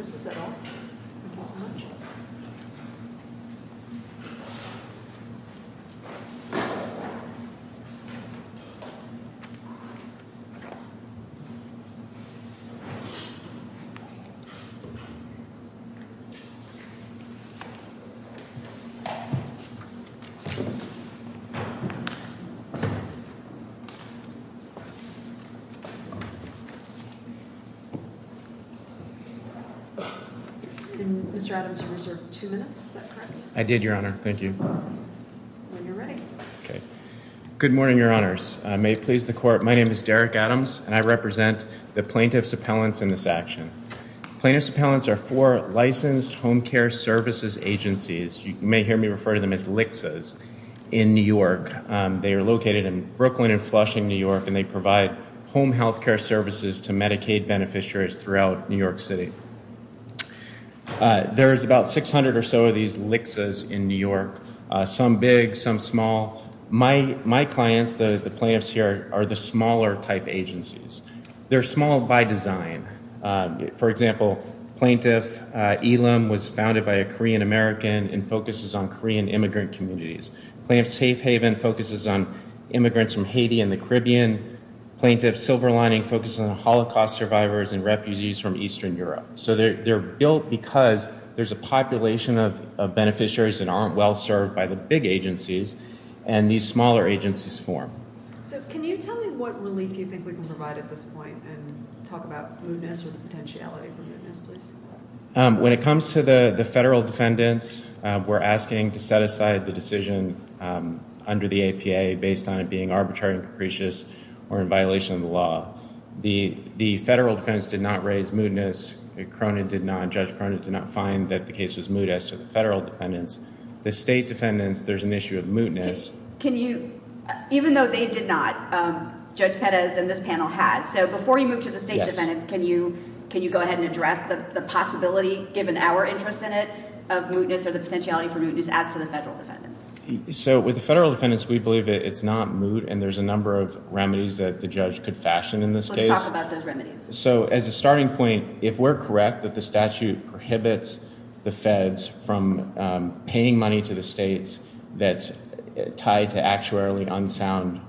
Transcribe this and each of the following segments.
s at all. Thank you so much. Good morning, Your Honors. May it please the Court, my name is Derek Adams, and I represent the Plaintiff's Appellants in this action. Plaintiff's Appellants are four licensed home care services agencies. You may hear me refer to them as LHCSAs in New York. They are located in Brooklyn and Flushing, New York, and they provide home health care services to Medicaid beneficiaries throughout New York City. There is about 600 or so of these LHCSAs in New York, some big, some small. My clients, the plaintiffs here, are the smaller type agencies. They're small by design. For example, Plaintiff Elam was founded by a Korean American and focuses on Korean immigrant communities. Plaintiff's Safe Haven focuses on immigrants from Haiti and the Caribbean. Plaintiff's Silver Lining focuses on Holocaust survivors and refugees from Eastern Europe. So they're built because there's a population of beneficiaries that aren't well served by the big agencies, and these smaller agencies form. So can you tell me what relief you think we can provide at this point, and talk about mootness or the potentiality for mootness, please? When it comes to the federal defendants, we're asking to set aside the decision under the APA based on it being arbitrary and capricious or in violation of the law. The federal defendants did not raise mootness. Cronin did not. Judge Cronin did not find that the case was moot as to the federal defendants. The state defendants, there's an issue of mootness. Can you, even though they did not, Judge Pettis and this panel has, so before you move to the state defendants, can you go ahead and address the possibility, given our interest in it, of mootness or the potentiality for mootness as to the federal defendants? So with the federal defendants, we believe it's not moot, and there's a number of remedies that the judge could fashion in this case. Let's talk about those remedies. So as a starting point, if we're correct that the statute prohibits the feds from paying money to the states that's tied to actuarially unsound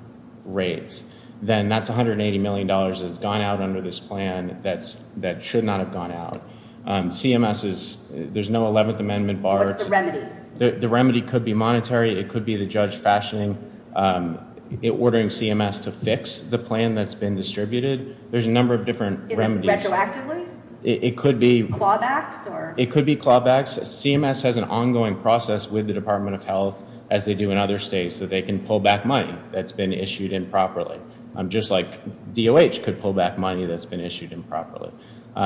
rates, then that's $180 million that's gone out under this plan that should not have gone out. CMS is, there's no 11th Amendment bar. What's the remedy? The remedy could be monetary. It could be the judge fashioning, ordering CMS to fix the plan that's been distributed. There's a number of different remedies. Is it retroactively? It could be. Clawbacks? It could be clawbacks. CMS has an ongoing process with the Department of Health, as they do in other states, that they can pull back money that's been issued improperly, just like DOH could pull back money that's been issued improperly.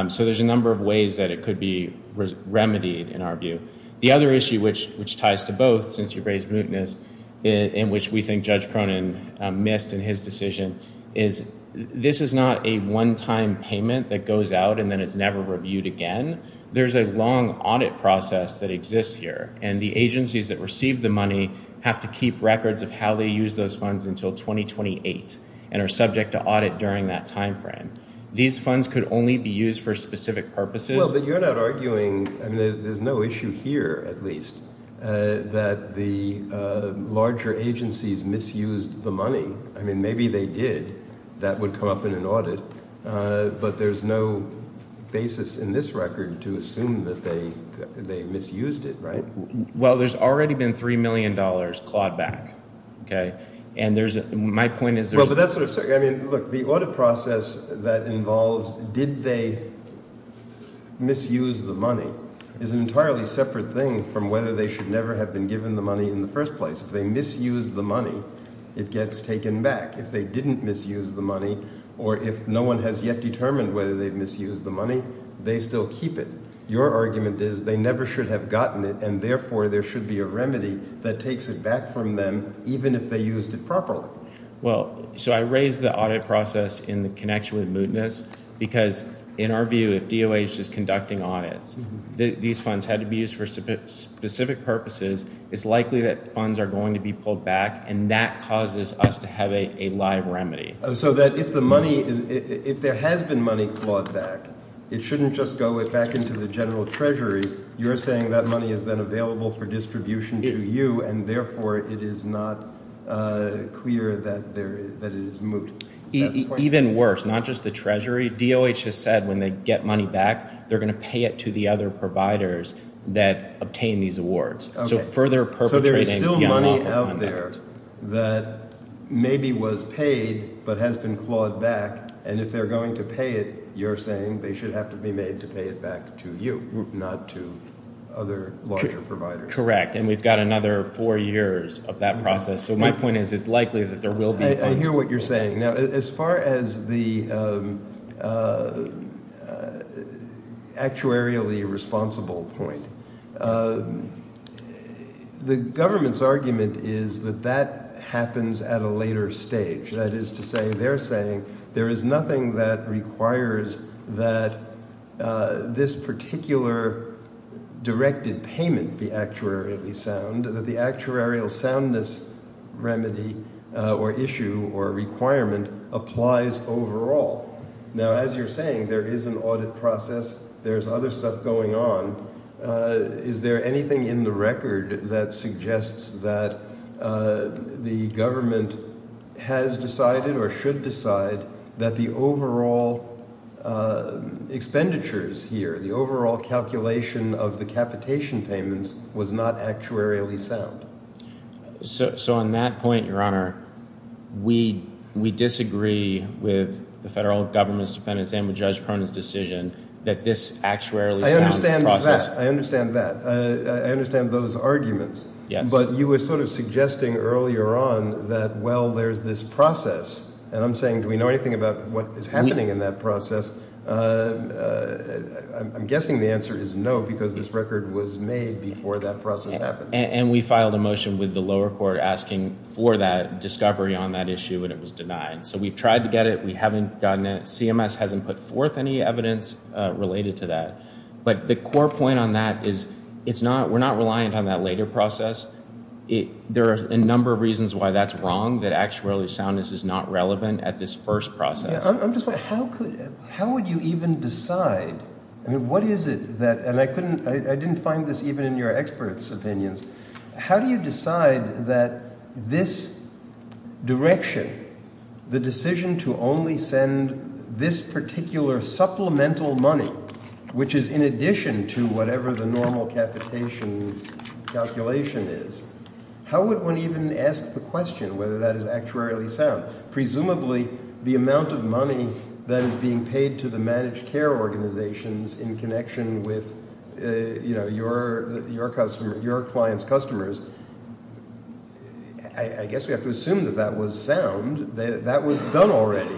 So there's a number of ways that it could be remedied in our view. The other issue, which ties to both, since you raised mootness, in which we think Judge Cronin missed in his decision, is this is not a one-time payment that goes out and then it's never reviewed again. There's a long audit process that exists here, and the agencies that receive the money have to keep records of how they use those funds until 2028 and are subject to audit during that time frame. These funds could only be used for specific purposes. Well, but you're not arguing, I mean, there's no issue here, at least, that the larger agencies misused the money. I mean, maybe they did. That would come up in an audit. But there's no basis in this record to assume that they misused it, right? Well, there's already been $3 million clawed back, okay? And there's, my point is there's Well, but that's what I'm saying. I mean, look, the audit process that involves did they misuse the money is an entirely separate thing from whether they should never have been given the money in the first place. If they misused the money, it gets taken back. If they didn't misuse the money, or if no one has yet determined whether they misused the money, they still keep it. Your argument is they never should have gotten it, and therefore there should be a remedy that takes it back from them, even if they used it properly. Well, so I raise the audit process in the connection with mootness, because in our view, if DOH is conducting audits, these funds had to be used for specific purposes. It's likely that funds are going to be pulled back, and that causes us to have a live remedy. So that if the money, if there has been money clawed back, it shouldn't just go back into the general treasury. You're saying that money is then available for distribution to you, and therefore it is not clear that it is moot. Even worse, not just the treasury. DOH has said when they get money back, they're going to pay it to the other providers that obtain these awards. So further perpetrating the money out there that maybe was paid, but has been clawed back, and if they're going to pay it, you're saying they should have to be made to pay it back to you, not to other larger providers. Correct. And we've got another four years of that process. So my point is it's likely that there will be funds pulled back. I hear what you're saying. Now, as far as the actuarially responsible point, the government's argument is that that happens at a later stage. That is to say, they're saying there is nothing that requires that this particular directed payment be actuarially sound, that the actuarial soundness remedy or issue or requirement applies overall. Now, as you're saying, there is an audit process. There's other stuff going on. Is there anything in the record that suggests that the government has decided or should decide that the overall expenditures here, the overall calculation of the capitation payments, was not actuarially sound? So on that point, Your Honor, we disagree with the federal government's defendants and with Judge Cronin's decision that this actuarially sound process— I understand that. I understand those arguments. But you were sort of suggesting earlier on that, well, there's this process. And I'm saying, do we know anything about what is happening in that process? I'm guessing the answer is no, because this record was made before that process happened. And we filed a motion with the lower court asking for that discovery on that issue, and it was denied. So we've tried to get it. We haven't gotten it. CMS hasn't put forth any evidence related to that. But the core point on that is it's not—we're not reliant on that later process. There are a number of reasons why that's wrong, that actuarially soundness is not relevant at this first process. I'm just wondering, how would you even decide—I mean, what is it that—and I didn't find this even in your experts' opinions. How do you decide that this direction, the decision to only send this particular supplemental money, which is in addition to whatever the normal capitation calculation is, how would one even ask the question whether that is actuarially sound? Presumably, the amount of money that is being paid to the managed care organizations in connection with, you know, your clients' customers, I guess we have to assume that that was sound. That was done already.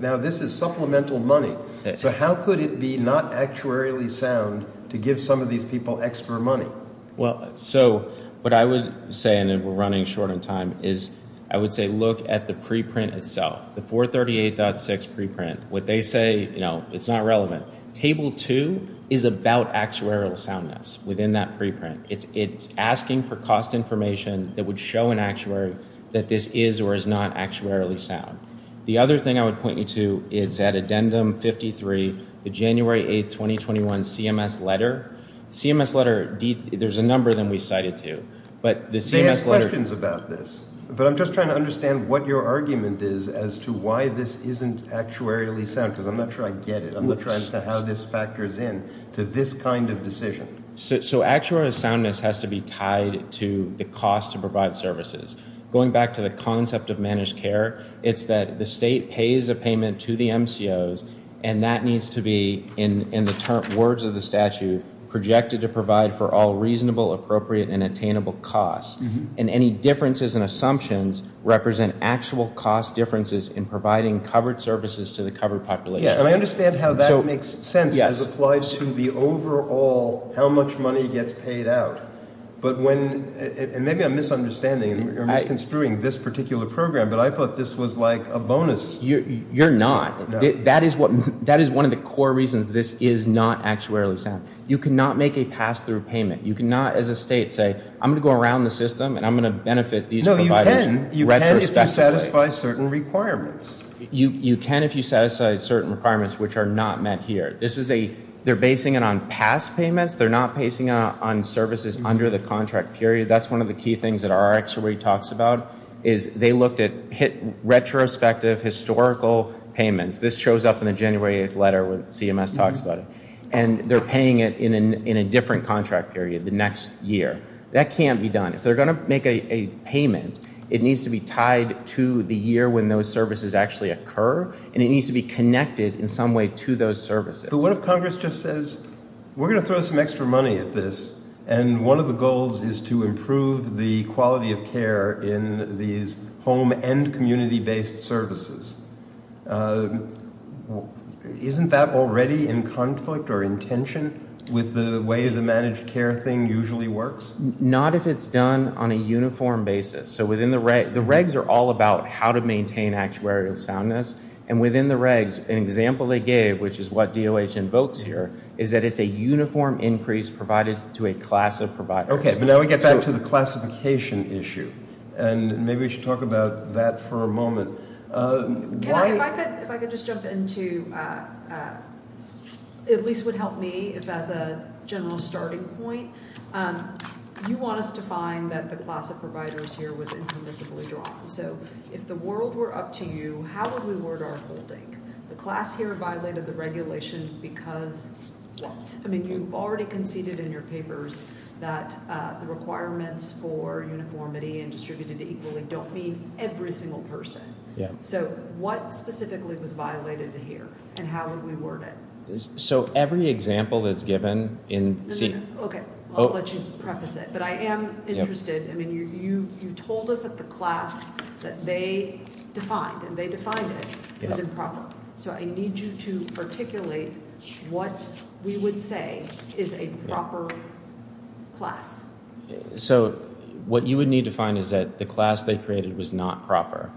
Now this is supplemental money. So how could it be not actuarially sound to give some of these people extra money? Well, so what I would say—and we're running short on time—is I would say look at the preprint itself, the 438.6 preprint. What they say, you know, it's not relevant. Table 2 is about actuarial soundness within that preprint. It's asking for cost information that would show an actuary that this is or is not actuarially sound. The other thing I would point you to is that Addendum 53, the January 8, 2021 CMS letter. The CMS letter, there's a number that we cited too, but the CMS letter— They ask questions about this, but I'm just trying to understand what your argument is as to why this isn't actuarially sound, because I'm not sure I get it. I'm not sure as to how this factors in to this kind of decision. So actuarial soundness has to be tied to the cost to provide services. Going back to the concept of managed care, it's that the state pays a payment to the MCOs, and that needs to be, in the words of the statute, projected to provide for all reasonable, appropriate, and attainable costs. And any differences in assumptions represent actual cost differences in providing covered services to the covered population. And I understand how that makes sense, because it applies to the overall how much money gets paid out. But when—and maybe I'm misunderstanding or misconstruing this particular program, but I thought this was like a bonus. You're not. That is one of the core reasons this is not actuarially sound. You cannot make a pass-through payment. You cannot, as a state, say, I'm going to go around the system and I'm going to benefit these providers retrospectively. No, you can if you satisfy certain requirements. You can if you satisfy certain requirements which are not met here. This is a—they're basing it on past payments. They're not basing it on services under the contract period. That's one of the key things that our actuary talks about, is they looked at—hit retrospective historical payments. This shows up in the January 8th letter when CMS talks about it. And they're paying it in a different contract period, the next year. That can't be done. If they're going to make a payment, it needs to be tied to the year when those services actually occur, and it needs to be connected in some way to those services. But what if Congress just says, we're going to throw some extra money at this, and one of the goals is to improve the quality of care in these home and community-based services? Isn't that already in conflict or in tension with the way the managed care thing usually works? Not if it's done on a uniform basis. So within the—the regs are all about how to maintain actuarial soundness. And within the regs, an example they gave, which is what DOH invokes here, is that it's a uniform increase provided to a class of providers. Okay, but now we get back to the classification issue. And maybe we should talk about that for a moment. Can I—if I could just jump into—it at least would help me as a general starting point. You want us to find that the class of providers here was incomprehensibly drawn. So if the world were up to you, how would we word our holding? The class here violated the regulation because what? I mean, you've already conceded in your papers that the requirements for uniformity and distributed equally don't mean every single person. So what specifically was violated here, and how would we word it? So every example that's given in— Okay, I'll let you preface it. But I am interested—I mean, you told us that the class that they defined, and they defined it, was improper. So I need you to articulate what we would say is a proper class. So what you would need to find is that the class they created was not proper.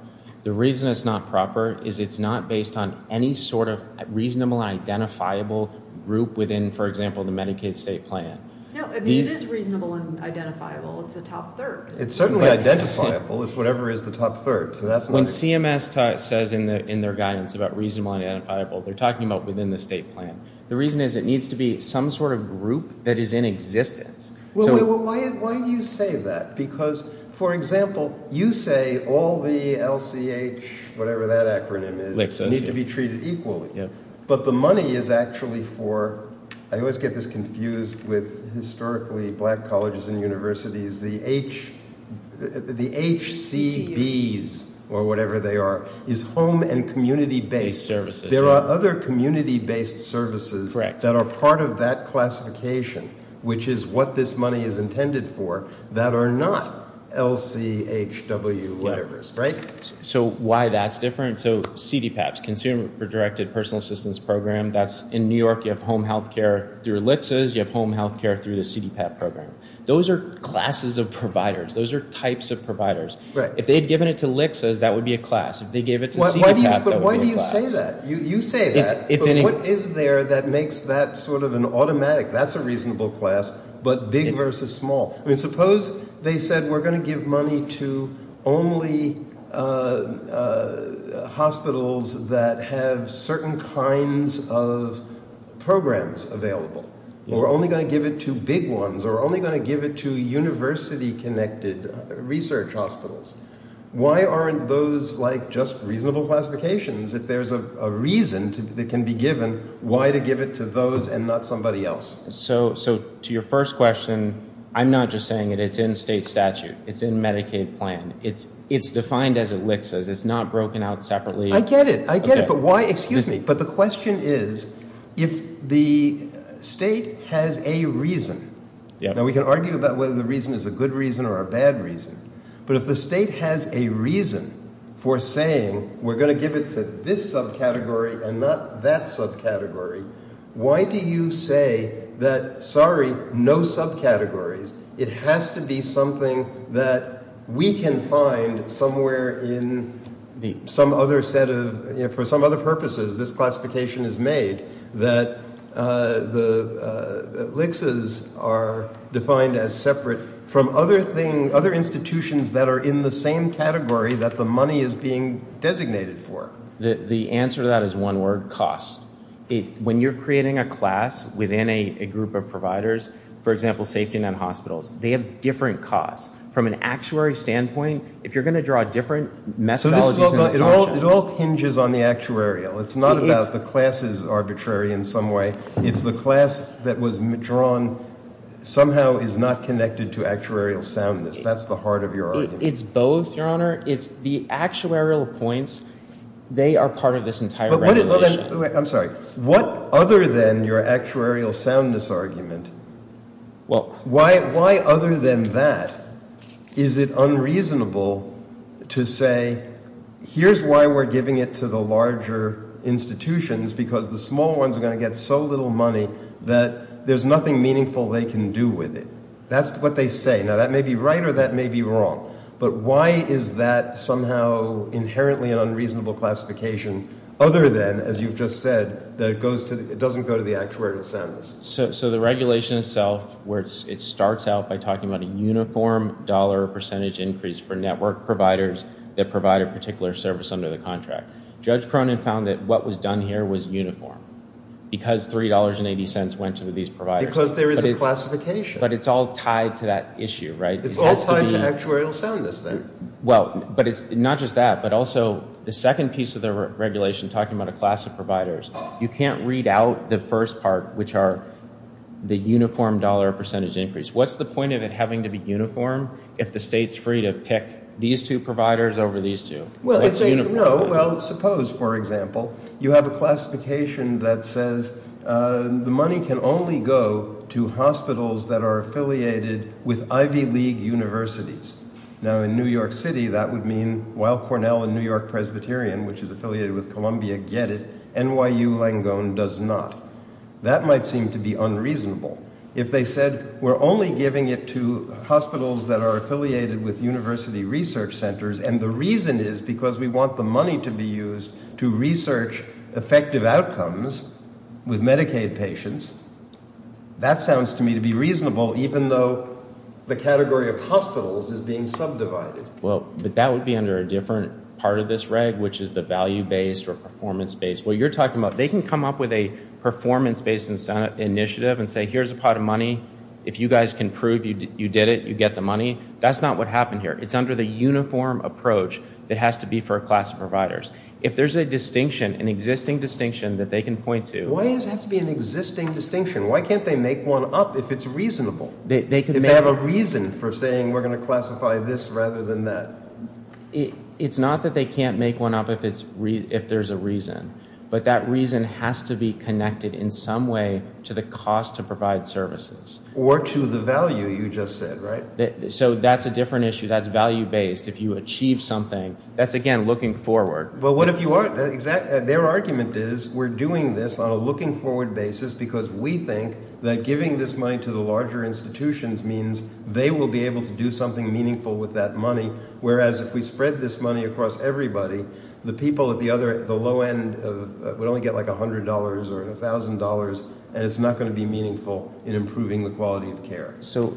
The reason it's not proper is it's not based on any sort of reasonable and identifiable group within, for example, the Medicaid state plan. No, I mean, it is reasonable and identifiable. It's a top third. It's certainly identifiable. It's whatever is the top third. So that's— When CMS says in their guidance about reasonable and identifiable, they're talking about within the state plan. The reason is it needs to be some sort of group that is in existence. Well, why do you say that? Because, for example, you say all the LCH—whatever that acronym is—need to be treated equally. But the money is actually for—I always get this confused with historically black colleges and universities. The HCBs, or whatever they are, is home and community-based. There are other community-based services that are part of that classification, which is what this money is intended for, that are not LCHW, whatever, right? So why that's different—so CDPAPs, Consumer Directed Personal Assistance Program, that's in New York. You have home health care through LHCAs. You have home health care through the CDPAP program. Those are classes of providers. Those are types of providers. If they'd given it to LHCAs, that would be a class. If they gave it to CDPAP, that would be a class. But why do you say that? You say that. But what is there that makes that sort of an automatic—that's a reasonable class, but big versus small? Suppose they said, we're going to give money to only hospitals that have certain kinds of programs available, or we're only going to give it to big ones, or we're only going to give it to university-connected research hospitals. Why aren't those just reasonable classifications if there's a reason that can be given why to give it to those and not somebody else? So to your first question, I'm not just saying it. It's in state statute. It's in Medicaid plan. It's defined as ELLICSAs. It's not broken out separately. I get it. I get it. But why—excuse me. But the question is, if the state has a reason—now, we can argue about whether the reason is a good reason or a bad reason—but if the state has a reason for saying, we're going to give it to this subcategory and not that subcategory, why do you say that, sorry, no subcategories? It has to be something that we can find somewhere in some other set of—for some other purposes, this classification is made that the ELLICSAs are defined as separate from other institutions that are in the same category that the money is being designated for. The answer to that is one word, cost. When you're creating a class within a group of providers, for example, safety net hospitals, they have different costs. From an actuary standpoint, if you're going to draw different methodologies and assumptions— It all hinges on the actuarial. It's not about the classes arbitrary in some way. It's the class that was drawn somehow is not connected to actuarial soundness. That's the heart of your argument. It's both, Your Honor. It's the actuarial points, they are part of this entire regulation. I'm sorry. What other than your actuarial soundness argument, why other than that is it unreasonable to say, here's why we're giving it to the larger institutions because the small ones are going to get so little money that there's nothing meaningful they can do with it? That's what they say. That may be right or that may be wrong, but why is that somehow inherently an unreasonable classification other than, as you've just said, that it doesn't go to the actuarial soundness? The regulation itself, it starts out by talking about a uniform dollar percentage increase for network providers that provide a particular service under the contract. Judge Cronin found that what was done here was uniform because $3.80 went to these providers. Because there is a classification. But it's all tied to that issue, right? It's all tied to actuarial soundness, then. Not just that, but also the second piece of the regulation talking about a class of providers, you can't read out the first part, which are the uniform dollar percentage increase. What's the point of it having to be uniform if the state's free to pick these two providers over these two? Well, suppose, for example, you have a classification that says the money can only go to hospitals that are affiliated with Ivy League universities. Now, in New York City, that would mean, while Cornell and New York Presbyterian, which is affiliated with Columbia, get it, NYU Langone does not. That might seem to be unreasonable. If they said, we're only giving it to hospitals that are affiliated with university research centers, and the reason is because we want the money to be used to research effective outcomes with Medicaid patients, that sounds to me to be reasonable, even though the category of hospitals is being subdivided. Well, but that would be under a different part of this reg, which is the value-based or performance-based. What you're talking about, they can come up with a performance-based initiative and say, here's a pot of money. If you guys can prove you did it, you get the money. That's not what happened here. It's under the uniform approach that has to be for a class of providers. If there's a distinction, an existing distinction, that they can point to. Why does it have to be an existing distinction? Why can't they make one up if it's reasonable? If they have a reason for saying, we're going to classify this rather than that? It's not that they can't make one up if there's a reason, but that reason has to be connected in some way to the cost to provide services. Or to the value you just said, right? So that's a different issue. That's value-based. If you achieve something, that's again, looking forward. Well, what if you are? Their argument is, we're doing this on a looking-forward basis because we think that giving this money to the larger institutions means they will be able to do something meaningful with that money, whereas if we spread this money across everybody, the people at the low end would only get like $100 or $1,000, and it's not going to be meaningful in improving the quality of care. So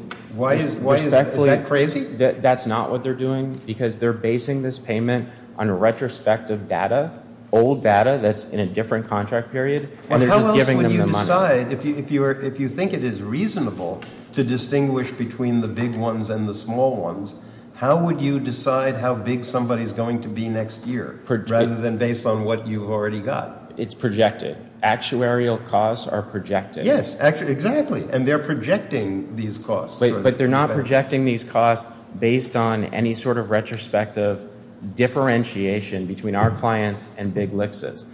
is that crazy? That's not what they're doing, because they're basing this payment on a retrospective data, old data that's in a different contract period, and they're just giving them the money. If you think it is reasonable to distinguish between the big ones and the small ones, how would you decide how big somebody is going to be next year, rather than based on what you've already got? It's projected. Actuarial costs are projected. Yes, exactly. And they're projecting these costs. But they're not projecting these costs based on any sort of retrospective differentiation between our clients and big LHCAs.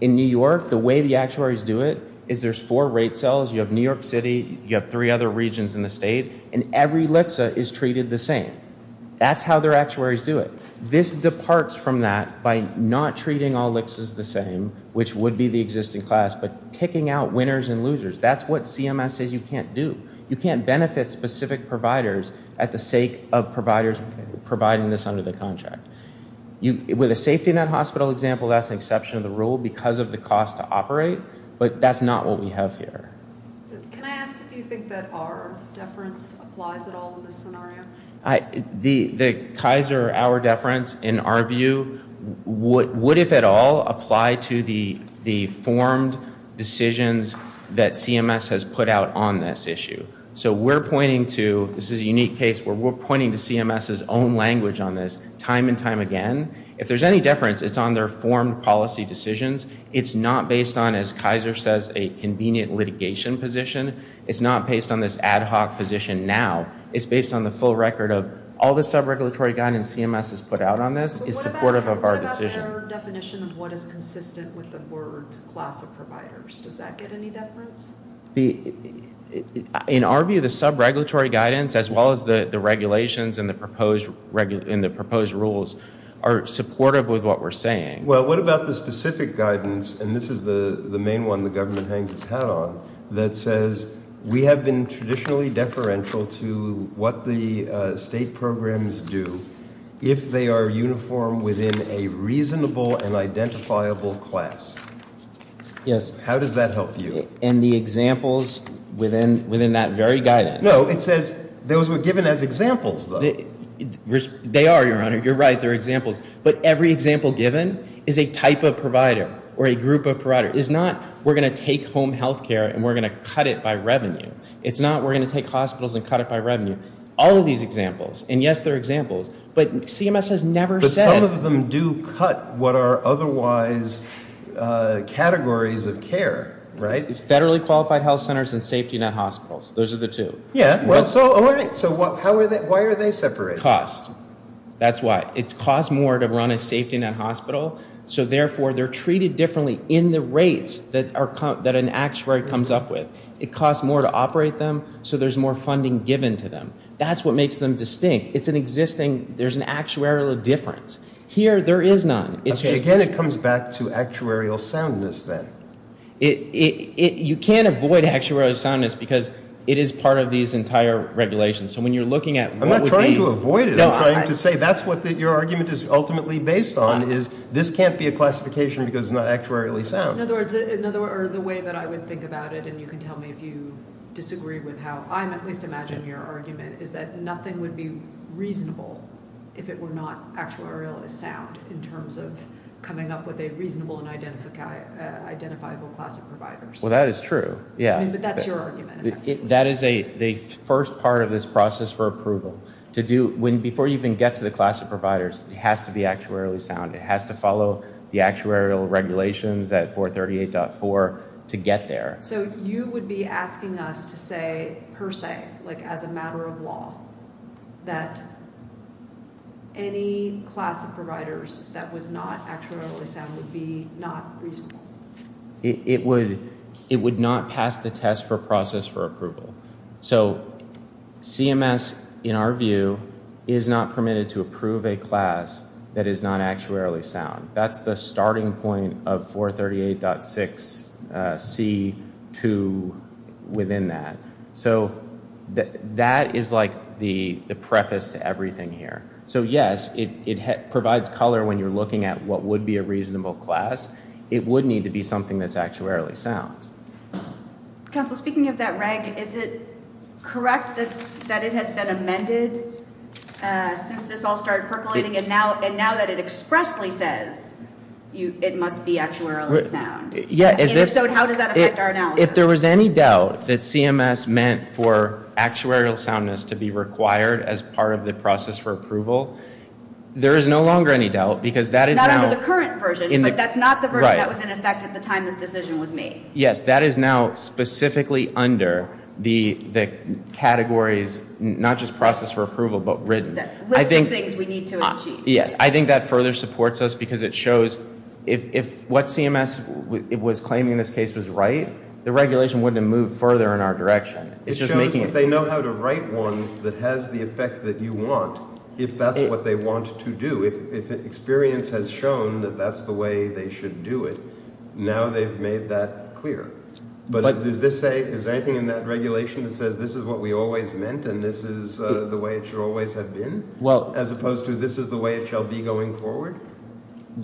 In New York, the way the actuaries do it is there's four rate cells. You have New York City, you have three other regions in the state, and every LHCA is treated the same. That's how their actuaries do it. This departs from that by not treating all LHCAs the same, which would be the existing class, but picking out the winners and losers. That's what CMS says you can't do. You can't benefit specific providers at the sake of providers providing this under the contract. With a safety net hospital example, that's an exception to the rule because of the cost to operate, but that's not what we have here. Can I ask if you think that our deference applies at all in this scenario? The Kaiser hour deference, in our view, would, if at all, apply to the formed decisions that CMS has put out on this issue. So we're pointing to, this is a unique case where we're pointing to CMS's own language on this time and time again. If there's any deference, it's on their formed policy decisions. It's not based on, as Kaiser says, a convenient litigation position. It's not based on this ad hoc position now. It's based on the full record of all the subregulatory guidance CMS has put out on this is supportive of our decision. What about their definition of what is consistent with the board's class of providers? Does that get any deference? In our view, the subregulatory guidance, as well as the regulations and the proposed rules, are supportive with what we're saying. Well, what about the specific guidance, and this is the main one the government hangs its hat on, that says, we have been traditionally deferential to what the state programs do if they are uniform within a reasonable and identifiable class. How does that help you? And the examples within that very guidance. No, it says those were given as examples, though. They are, your honor. You're right, they're examples. But every example given is a type of provider or a group of providers. It's not, we're going to take home health care and we're going to cut it by revenue. It's not, we're going to take hospitals and cut it by revenue. All of these examples, and yes, they're examples, but CMS has never said. But some of them do cut what are otherwise categories of care, right? Federally qualified health centers and safety net hospitals. Those are the two. Yeah, well, so how are they, why are they separated? Because of the cost. That's why. It costs more to run a safety net hospital, so therefore they're treated differently in the rates that an actuary comes up with. It costs more to operate them, so there's more funding given to them. That's what makes them distinct. It's an existing, there's an actuarial difference. Here, there is none. Again, it comes back to actuarial soundness, then. You can't avoid actuarial soundness because it is part of these entire regulations. So when you're looking at what would be- I'm not trying to avoid it. I'm trying to say that's what your argument is ultimately based on, is this can't be a classification because it's not actuarially sound. In other words, the way that I would think about it, and you can tell me if you disagree with how I'm at least imagining your argument, is that nothing would be reasonable if it were not actuarially sound in terms of coming up with a reasonable and identifiable class of providers. Well, that is true. But that's your argument. That is the first part of this process for approval. Before you even get to the class of providers, it has to be actuarially sound. It has to follow the actuarial regulations at 438.4 to get there. So you would be asking us to say, per se, as a matter of law, that any class of providers that was not actuarially sound would be not reasonable? It would not pass the test for process for approval. So CMS, in our view, is not permitted to approve a class that is not actuarially sound. That's the starting point of 438.6c2 within that. So that is like the preface to everything here. So yes, it provides color when you're looking at what would be a reasonable class. It would need to be something that's actuarially sound. Counsel, speaking of that reg, is it correct that it has been amended since this all started percolating and now that it expressly says it must be actuarially sound? Yeah. And if so, how does that affect our analysis? If there was any doubt that CMS meant for actuarial soundness to be required as part of the process for approval, there is no longer any doubt because that is now The current version, but that's not the version that was in effect at the time this decision was made. Yes, that is now specifically under the categories, not just process for approval, but written. The list of things we need to achieve. Yes. I think that further supports us because it shows if what CMS was claiming in this case was right, the regulation wouldn't have moved further in our direction. It shows that they know how to write one that has the effect that you want, if that's what they want to do. If experience has shown that that's the way they should do it, now they've made that clear. But does this say, is there anything in that regulation that says this is what we always meant and this is the way it should always have been? As opposed to this is the way it shall be going forward?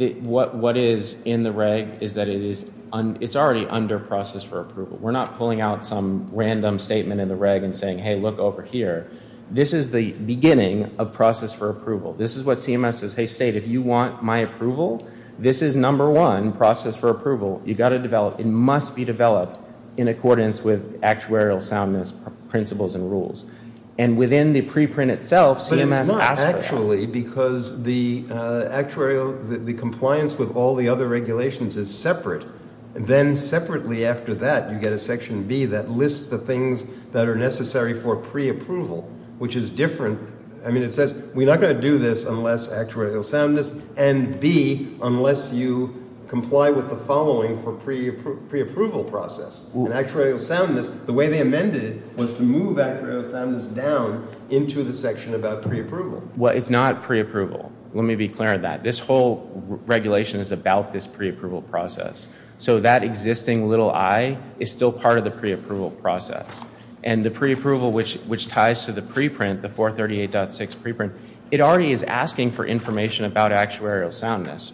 What is in the reg is that it's already under process for approval. We're not pulling out some random statement in the reg and saying, hey, look over here. This is the beginning of process for approval. This is what CMS says, hey, state, if you want my approval, this is number one, process for approval. You've got to develop. It must be developed in accordance with actuarial soundness, principles, and rules. And within the preprint itself, CMS asked for that. But it's not actually because the actuarial, the compliance with all the other regulations is separate. Then separately after that, you get a section B that lists the things that are necessary for preapproval, which is different. I mean, it says we're not going to do this unless actuarial soundness and B, unless you comply with the following for preapproval process. And actuarial soundness, the way they amended it was to move actuarial soundness down into the section about preapproval. Well, it's not preapproval. Let me be clear on that. This whole regulation is about this preapproval process. So that existing little I is still part of the preapproval process. And the preapproval, which ties to the preprint, the 438.6 preprint, it already is asking for information about actuarial soundness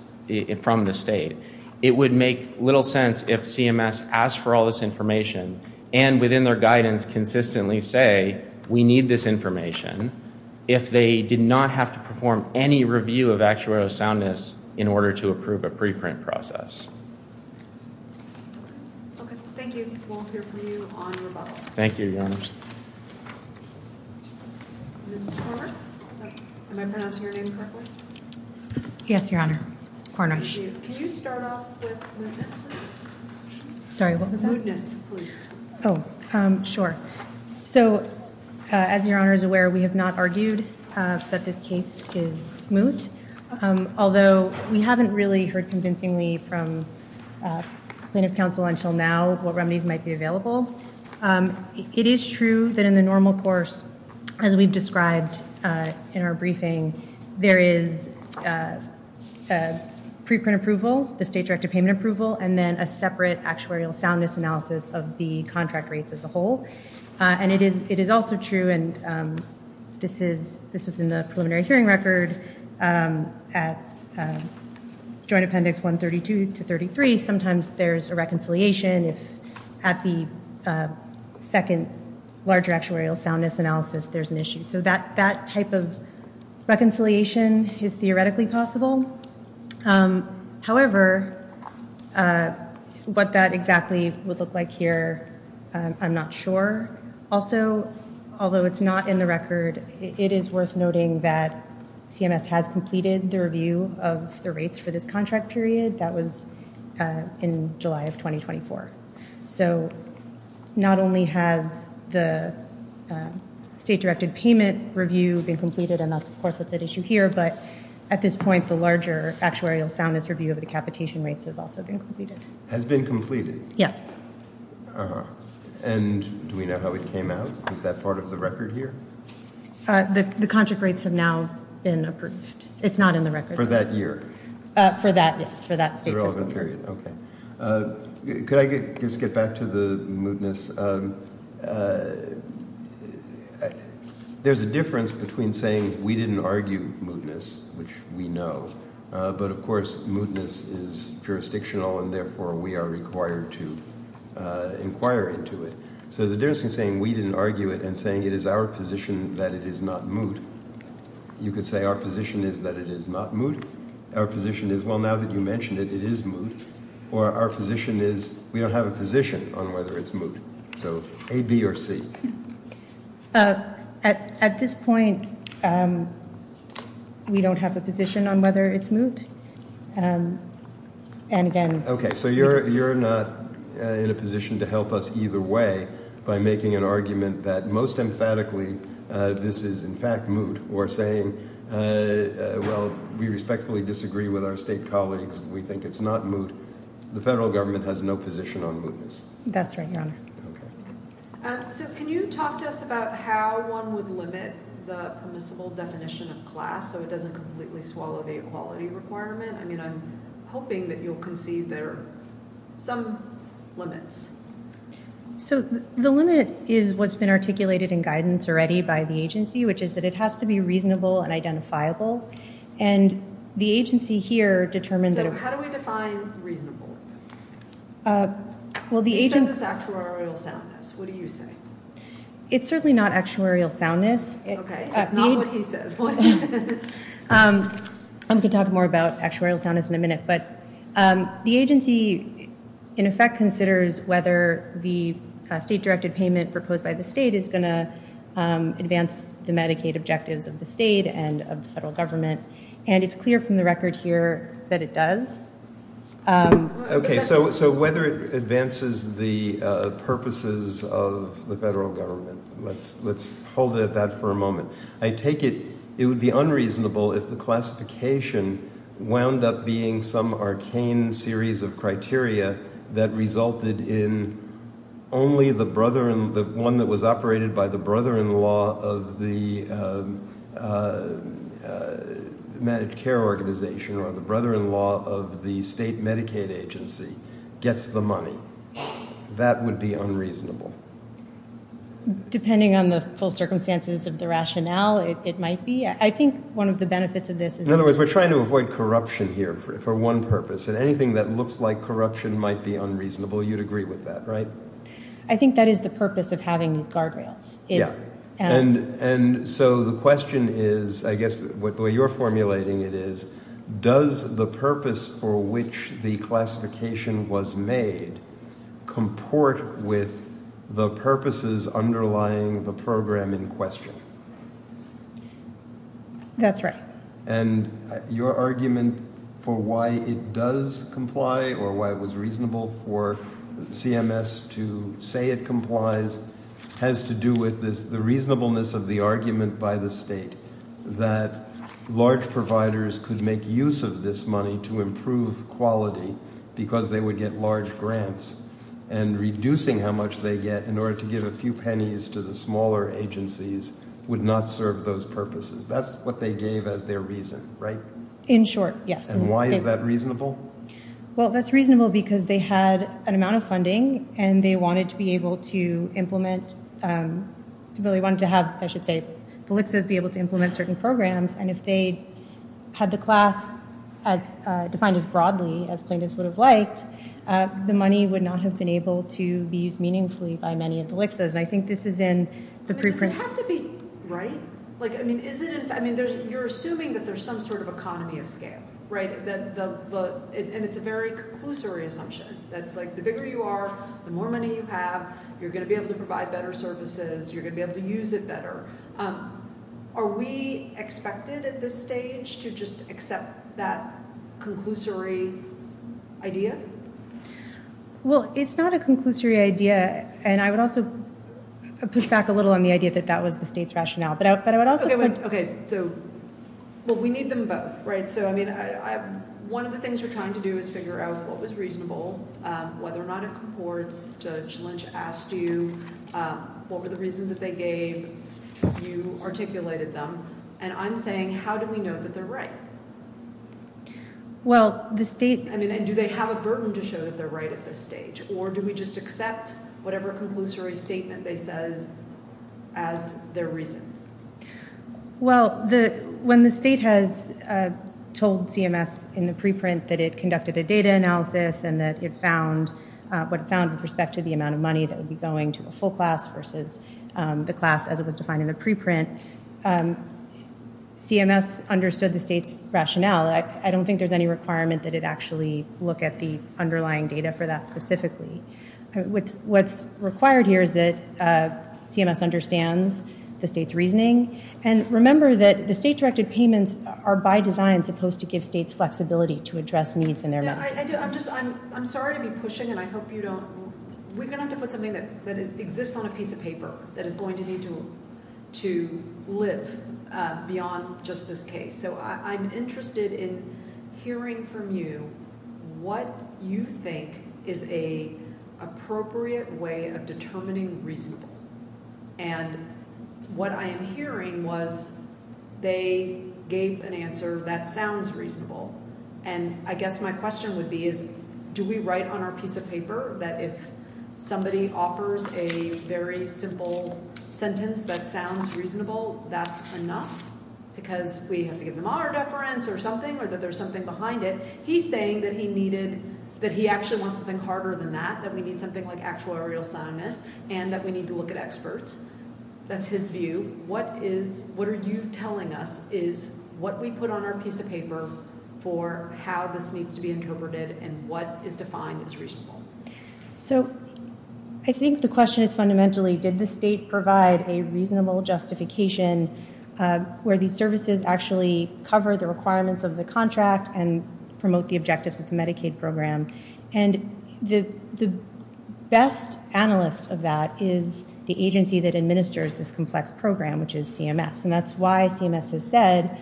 from the state. It would make little sense if CMS asked for all this information and within their guidance consistently say, we need this information, if they did not have to perform any review of actuarial soundness in order to approve a preprint process. OK. Thank you. We will hear from you on rebuttal. Thank you, Your Honor. Ms. Cornish? Am I pronouncing your name correctly? Yes, Your Honor. Cornish. Can you start off with mootness, please? Sorry, what was that? Mootness, please. Oh, sure. So as Your Honor is aware, we have not argued that this case is moot. Although we haven't really heard convincingly from plaintiff's counsel until now what remedies might be available, it is true that in the normal course, as we've described in our briefing, there is a preprint approval, the state directed payment approval, and then a separate actuarial soundness analysis of the contract rates as a whole. And it is also true, and this was in the preliminary hearing record, at Joint Appendix 132 to 33, sometimes there's a reconciliation if at the second larger actuarial soundness analysis there's an issue. So that type of reconciliation is theoretically possible. However, what that exactly would look like here, I'm not sure. Also, although it's not in the record, it is worth noting that CMS has completed the review of the rates for this contract period. That was in July of 2024. So not only has the state directed payment review been completed, and that's of course what's at issue here, but at this point, the larger actuarial soundness review of the capitation rates has also been completed. Has been completed? Yes. Uh-huh. And do we know how it came out? Is that part of the record here? The contract rates have now been approved. It's not in the record. For that year? For that, yes. For that state fiscal year. The relevant period. Okay. Could I just get back to the mootness? There's a difference between saying we didn't argue mootness, which we know, but of course mootness is jurisdictional and therefore we are required to inquire into it. So there's a difference between saying we didn't argue it and saying it is our position that it is not moot. You could say our position is that it is not moot. Our position is, well, now that you mentioned it, it is moot. Or our position is we don't have a position on whether it's moot. So A, B, or C? At this point, we don't have a position on whether it's moot. And again- Okay. So you're not in a position to help us either way by making an argument that most emphatically this is in fact moot or saying, well, we respectfully disagree with our state colleagues. We think it's not moot. The federal government has no position on mootness. That's right, Your Honor. Okay. So can you talk to us about how one would limit the permissible definition of class so it doesn't completely swallow the equality requirement? I mean, I'm hoping that you'll concede there are some limits. So the limit is what's been articulated in guidance already by the agency, which is that it has to be reasonable and identifiable. And the agency here determines that- So how do we define reasonable? It says it's actuarial soundness. What do you say? It's certainly not actuarial soundness. Okay. It's not what he says. What is it? I'm going to talk more about actuarial soundness in a minute. But the agency in effect considers whether the state-directed payment proposed by the state is going to advance the Medicaid objectives of the state and of the federal government. And it's clear from the record here that it does. Okay. So whether it advances the purposes of the federal government. Let's hold it at that for a moment. I take it it would be unreasonable if the classification wound up being some arcane series of criteria that resulted in only the one that was operated by the brother-in-law of the managed care organization or the brother-in-law of the state Medicaid agency gets the money. That would be unreasonable. Depending on the full circumstances of the rationale, it might be. I think one of the benefits of this is that- In other words, we're trying to avoid corruption here for one purpose. And anything that looks like corruption might be unreasonable. You'd agree with that, right? I think that is the purpose of having these guardrails. Yeah. And so the question is, I guess the way you're formulating it is, does the purpose for which the classification was made comport with the purposes underlying the program in question? That's right. And your argument for why it does comply or why it was reasonable for CMS to say it complies has to do with the reasonableness of the argument by the state that large providers could make use of this money to improve quality because they would get large grants and reducing how much they get in order to give a few pennies to the smaller agencies would not serve those purposes. That's what they gave as their reason, right? In short, yes. And why is that reasonable? Well, that's reasonable because they had an amount of funding, and they wanted to be able to implement certain programs. And if they had the class defined as broadly as plaintiffs would have liked, the money would not have been able to be used meaningfully by many of the LICSAs. Does this have to be right? You're assuming that there's some sort of economy of scale, right? And it's a very conclusory assumption that the bigger you are, the more money you have, you're going to be able to provide better services, you're going to be able to use it better. Are we expected at this stage to just accept that conclusory idea? Well, it's not a conclusory idea, and I would also push back a little on the idea that that was the state's rationale. Okay. So, well, we need them both, right? So, I mean, one of the things we're trying to do is figure out what was reasonable, whether or not it comports. Judge Lynch asked you what were the reasons that they gave. You articulated them. And I'm saying how do we know that they're right? Well, the state – I mean, and do they have a burden to show that they're right at this stage, or do we just accept whatever conclusory statement they said as their reason? Well, when the state has told CMS in the preprint that it conducted a data analysis and that it found what it found with respect to the amount of money that would be going to a full class versus the class as it was defined in the preprint, CMS understood the state's rationale. I don't think there's any requirement that it actually look at the underlying data for that specifically. What's required here is that CMS understands the state's reasoning. And remember that the state-directed payments are by design supposed to give states flexibility to address needs in their money. I'm sorry to be pushing, and I hope you don't – we're going to have to put something that exists on a piece of paper that is going to need to live beyond just this case. So I'm interested in hearing from you what you think is an appropriate way of determining reasonable. And what I am hearing was they gave an answer that sounds reasonable. And I guess my question would be is do we write on our piece of paper that if somebody offers a very simple sentence that sounds reasonable, that's enough because we have to give them our deference or something or that there's something behind it. He's saying that he needed – that he actually wants something harder than that, that we need something like actuarial soundness and that we need to look at experts. That's his view. What is – what are you telling us is what we put on our piece of paper for how this needs to be interpreted and what is defined as reasonable? So I think the question is fundamentally did the state provide a reasonable justification where these services actually cover the requirements of the contract and promote the objectives of the Medicaid program. And the best analyst of that is the agency that administers this complex program, which is CMS. And that's why CMS has said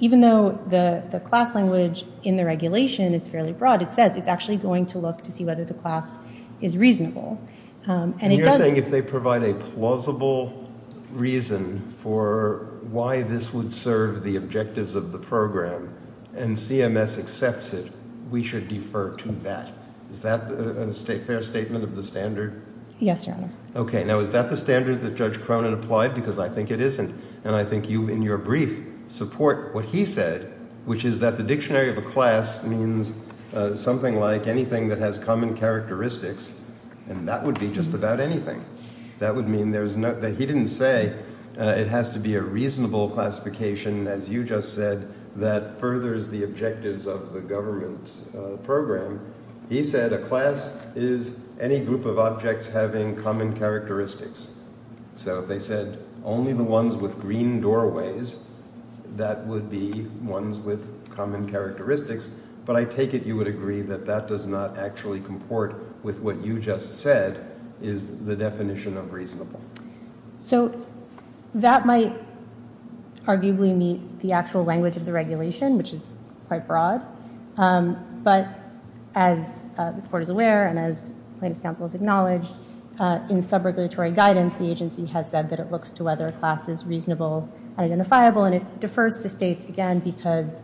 even though the class language in the regulation is fairly broad, it says it's actually going to look to see whether the class is reasonable. And it does – And you're saying if they provide a plausible reason for why this would serve the objectives of the program and CMS accepts it, we should defer to that. Is that a fair statement of the standard? Yes, Your Honor. Okay. Now is that the standard that Judge Cronin applied? Because I think it isn't. And I think you in your brief support what he said, which is that the dictionary of a class means something like anything that has common characteristics, and that would be just about anything. That would mean there's – that he didn't say it has to be a reasonable classification, as you just said, that furthers the objectives of the government's program. He said a class is any group of objects having common characteristics. So if they said only the ones with green doorways, that would be ones with common characteristics. But I take it you would agree that that does not actually comport with what you just said is the definition of reasonable. So that might arguably meet the actual language of the regulation, which is quite broad. But as this Court is aware and as Plaintiff's Counsel has acknowledged, in subregulatory guidance, the agency has said that it looks to whether a class is reasonable and identifiable, and it defers to states again because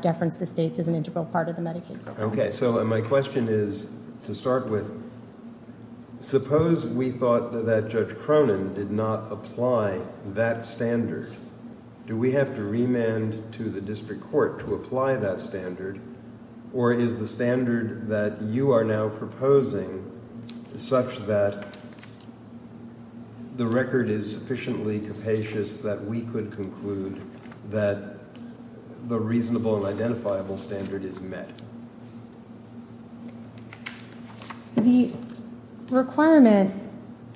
deference to states is an integral part of the Medicaid program. Okay. So my question is, to start with, suppose we thought that Judge Cronin did not apply that standard. Do we have to remand to the district court to apply that standard, or is the standard that you are now proposing such that the record is sufficiently capacious that we could conclude that the reasonable and identifiable standard is met? The requirement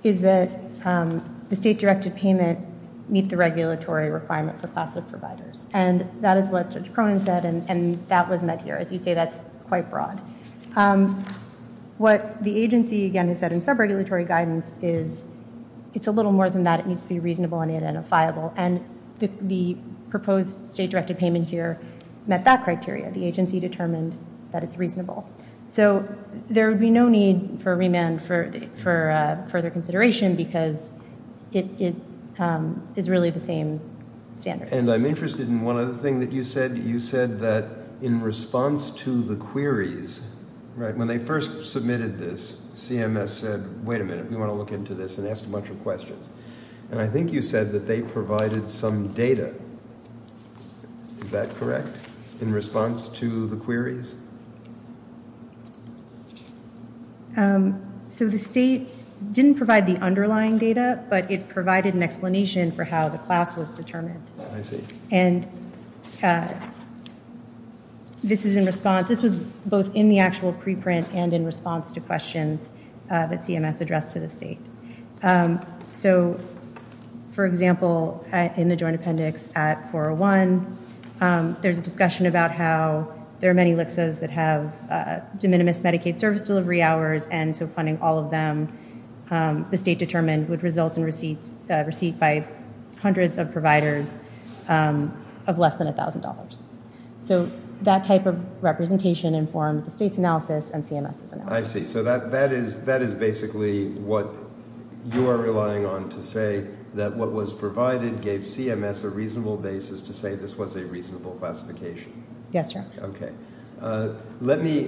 is that the state-directed payment meet the regulatory requirement for class of providers, and that is what Judge Cronin said, and that was met here. As you say, that's quite broad. What the agency again has said in subregulatory guidance is it's a little more than that. It needs to be reasonable and identifiable, and the proposed state-directed payment here met that criteria. The agency determined that it's reasonable. So there would be no need for remand for further consideration because it is really the same standard. And I'm interested in one other thing that you said. You said that in response to the queries, right, when they first submitted this, CMS said, wait a minute, we want to look into this and ask a bunch of questions, and I think you said that they provided some data. Is that correct in response to the queries? So the state didn't provide the underlying data, but it provided an explanation for how the class was determined. I see. And this is in response. This was both in the actual preprint and in response to questions that CMS addressed to the state. So, for example, in the joint appendix at 401, there's a discussion about how there are many LHCAs that have de minimis Medicaid service delivery hours, and so funding all of them, the state determined, would result in a receipt by hundreds of providers of less than $1,000. So that type of representation informed the state's analysis and CMS's analysis. I see. So that is basically what you are relying on to say that what was provided gave CMS a reasonable basis to say this was a reasonable classification. Yes, sir. Let me,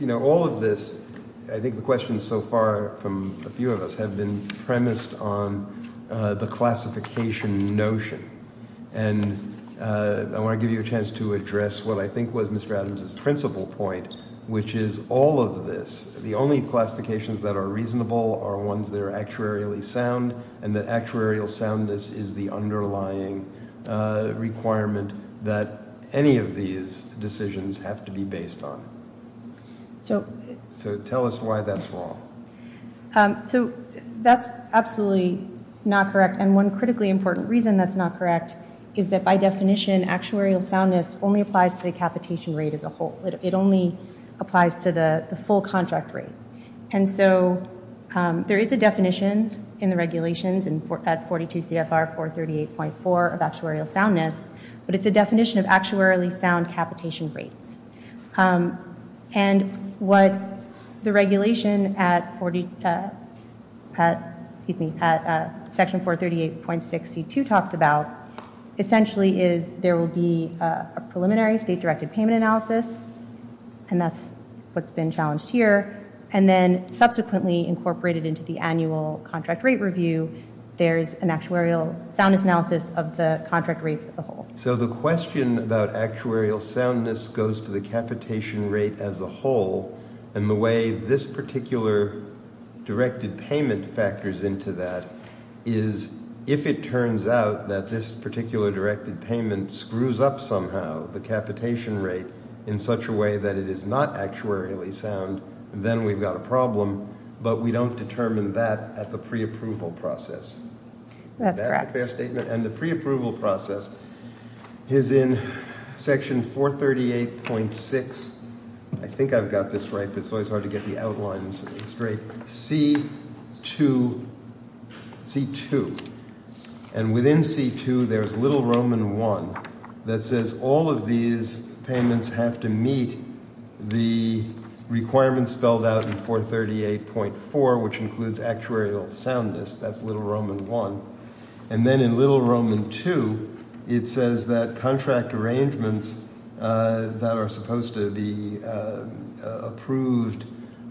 you know, all of this, I think the questions so far from a few of us have been premised on the classification notion, and I want to give you a chance to address what I think was Mr. Adams' principal point, which is all of this, the only classifications that are reasonable are ones that are actuarially sound, and that actuarial soundness is the underlying requirement that any of these decisions have to be based on. So tell us why that's wrong. So that's absolutely not correct, and one critically important reason that's not correct is that by definition actuarial soundness only applies to the capitation rate as a whole. It only applies to the full contract rate. And so there is a definition in the regulations at 42 CFR 438.4 of actuarial soundness, but it's a definition of actuarially sound capitation rates. And what the regulation at section 438.62 talks about essentially is there will be a preliminary state-directed payment analysis, and that's what's been challenged here. And then subsequently incorporated into the annual contract rate review, there is an actuarial soundness analysis of the contract rates as a whole. So the question about actuarial soundness goes to the capitation rate as a whole, and the way this particular directed payment factors into that is if it turns out that this particular directed payment screws up somehow the capitation rate in such a way that it is not actuarially sound, then we've got a problem, but we don't determine that at the preapproval process. That's correct. And the preapproval process is in section 438.6. I think I've got this right, but it's always hard to get the outlines straight. C2. And within C2, there's little Roman 1 that says all of these payments have to meet the requirements spelled out in 438.4, which includes actuarial soundness. That's little Roman 1. And then in little Roman 2, it says that contract arrangements that are supposed to be approved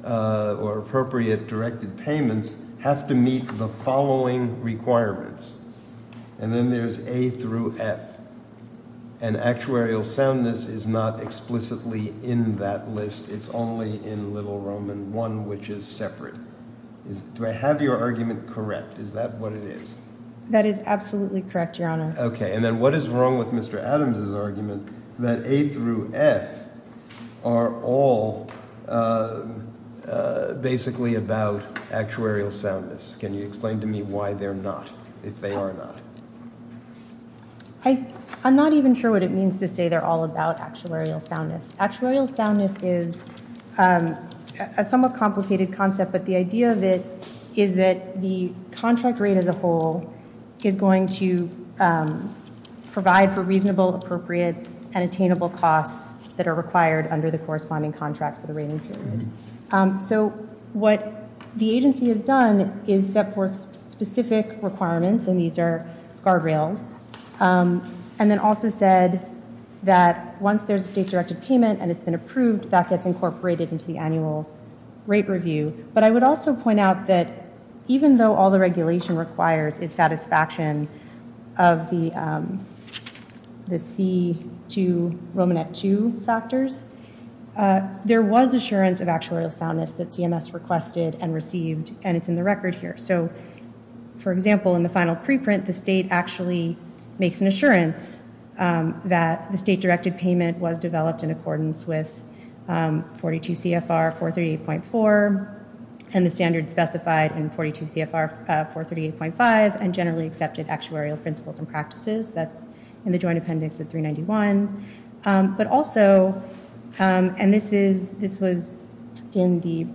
or appropriate directed payments have to meet the following requirements. And then there's A through F. And actuarial soundness is not explicitly in that list. It's only in little Roman 1, which is separate. Do I have your argument correct? Is that what it is? That is absolutely correct, Your Honor. Okay. And then what is wrong with Mr. Adams' argument that A through F are all basically about actuarial soundness? Can you explain to me why they're not, if they are not? I'm not even sure what it means to say they're all about actuarial soundness. Actuarial soundness is a somewhat complicated concept, but the idea of it is that the contract rate as a whole is going to provide for reasonable, appropriate, and attainable costs that are required under the corresponding contract for the rating period. So what the agency has done is set forth specific requirements, and these are guardrails, and then also said that once there's a state-directed payment and it's been approved, that gets incorporated into the annual rate review. But I would also point out that even though all the regulation requires is satisfaction of the C2, Romanette 2 factors, there was assurance of actuarial soundness that CMS requested and received, and it's in the record here. So, for example, in the final preprint, the state actually makes an assurance that the state-directed payment was developed in accordance with 42 CFR 438.4 and the standards specified in 42 CFR 438.5 and generally accepted actuarial principles and practices. That's in the joint appendix of 391. But also, and this was in the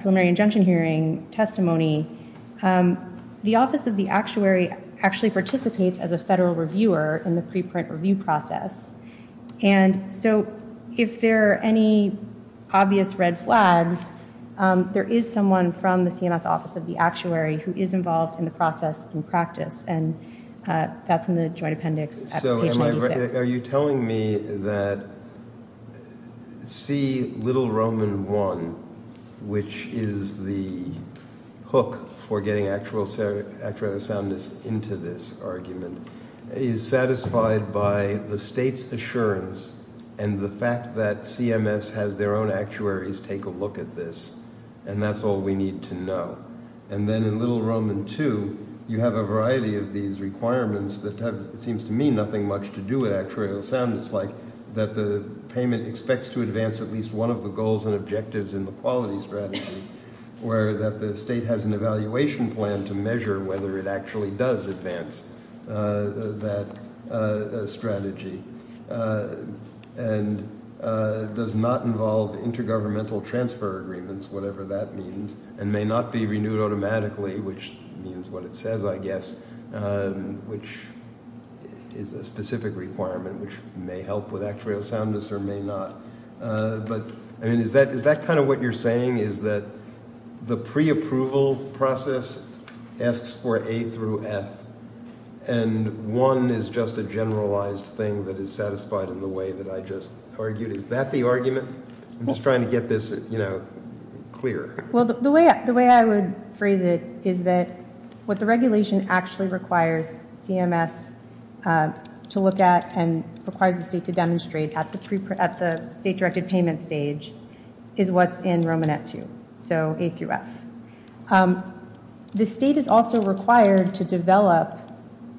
preliminary injunction hearing testimony, the Office of the Actuary actually participates as a federal reviewer in the preprint review process, and so if there are any obvious red flags, there is someone from the CMS Office of the Actuary who is involved in the process and practice, and that's in the joint appendix at page 96. So are you telling me that C little Roman 1, which is the hook for getting actuarial soundness into this argument, is satisfied by the state's assurance and the fact that CMS has their own actuaries take a look at this, and that's all we need to know. And then in little Roman 2, you have a variety of these requirements that have, it seems to me, nothing much to do with actuarial soundness, like that the payment expects to advance at least one of the goals and objectives in the quality strategy, where that the state has an evaluation plan to measure whether it actually does advance that strategy and does not involve intergovernmental transfer agreements, whatever that means, and may not be renewed automatically, which means what it says, I guess, which is a specific requirement, which may help with actuarial soundness or may not. But, I mean, is that kind of what you're saying, is that the preapproval process asks for A through F, and one is just a generalized thing that is satisfied in the way that I just argued? Is that the argument? I'm just trying to get this, you know, clear. Well, the way I would phrase it is that what the regulation actually requires CMS to look at and requires the state to demonstrate at the state-directed payment stage is what's in Romanette 2, so A through F. The state is also required to develop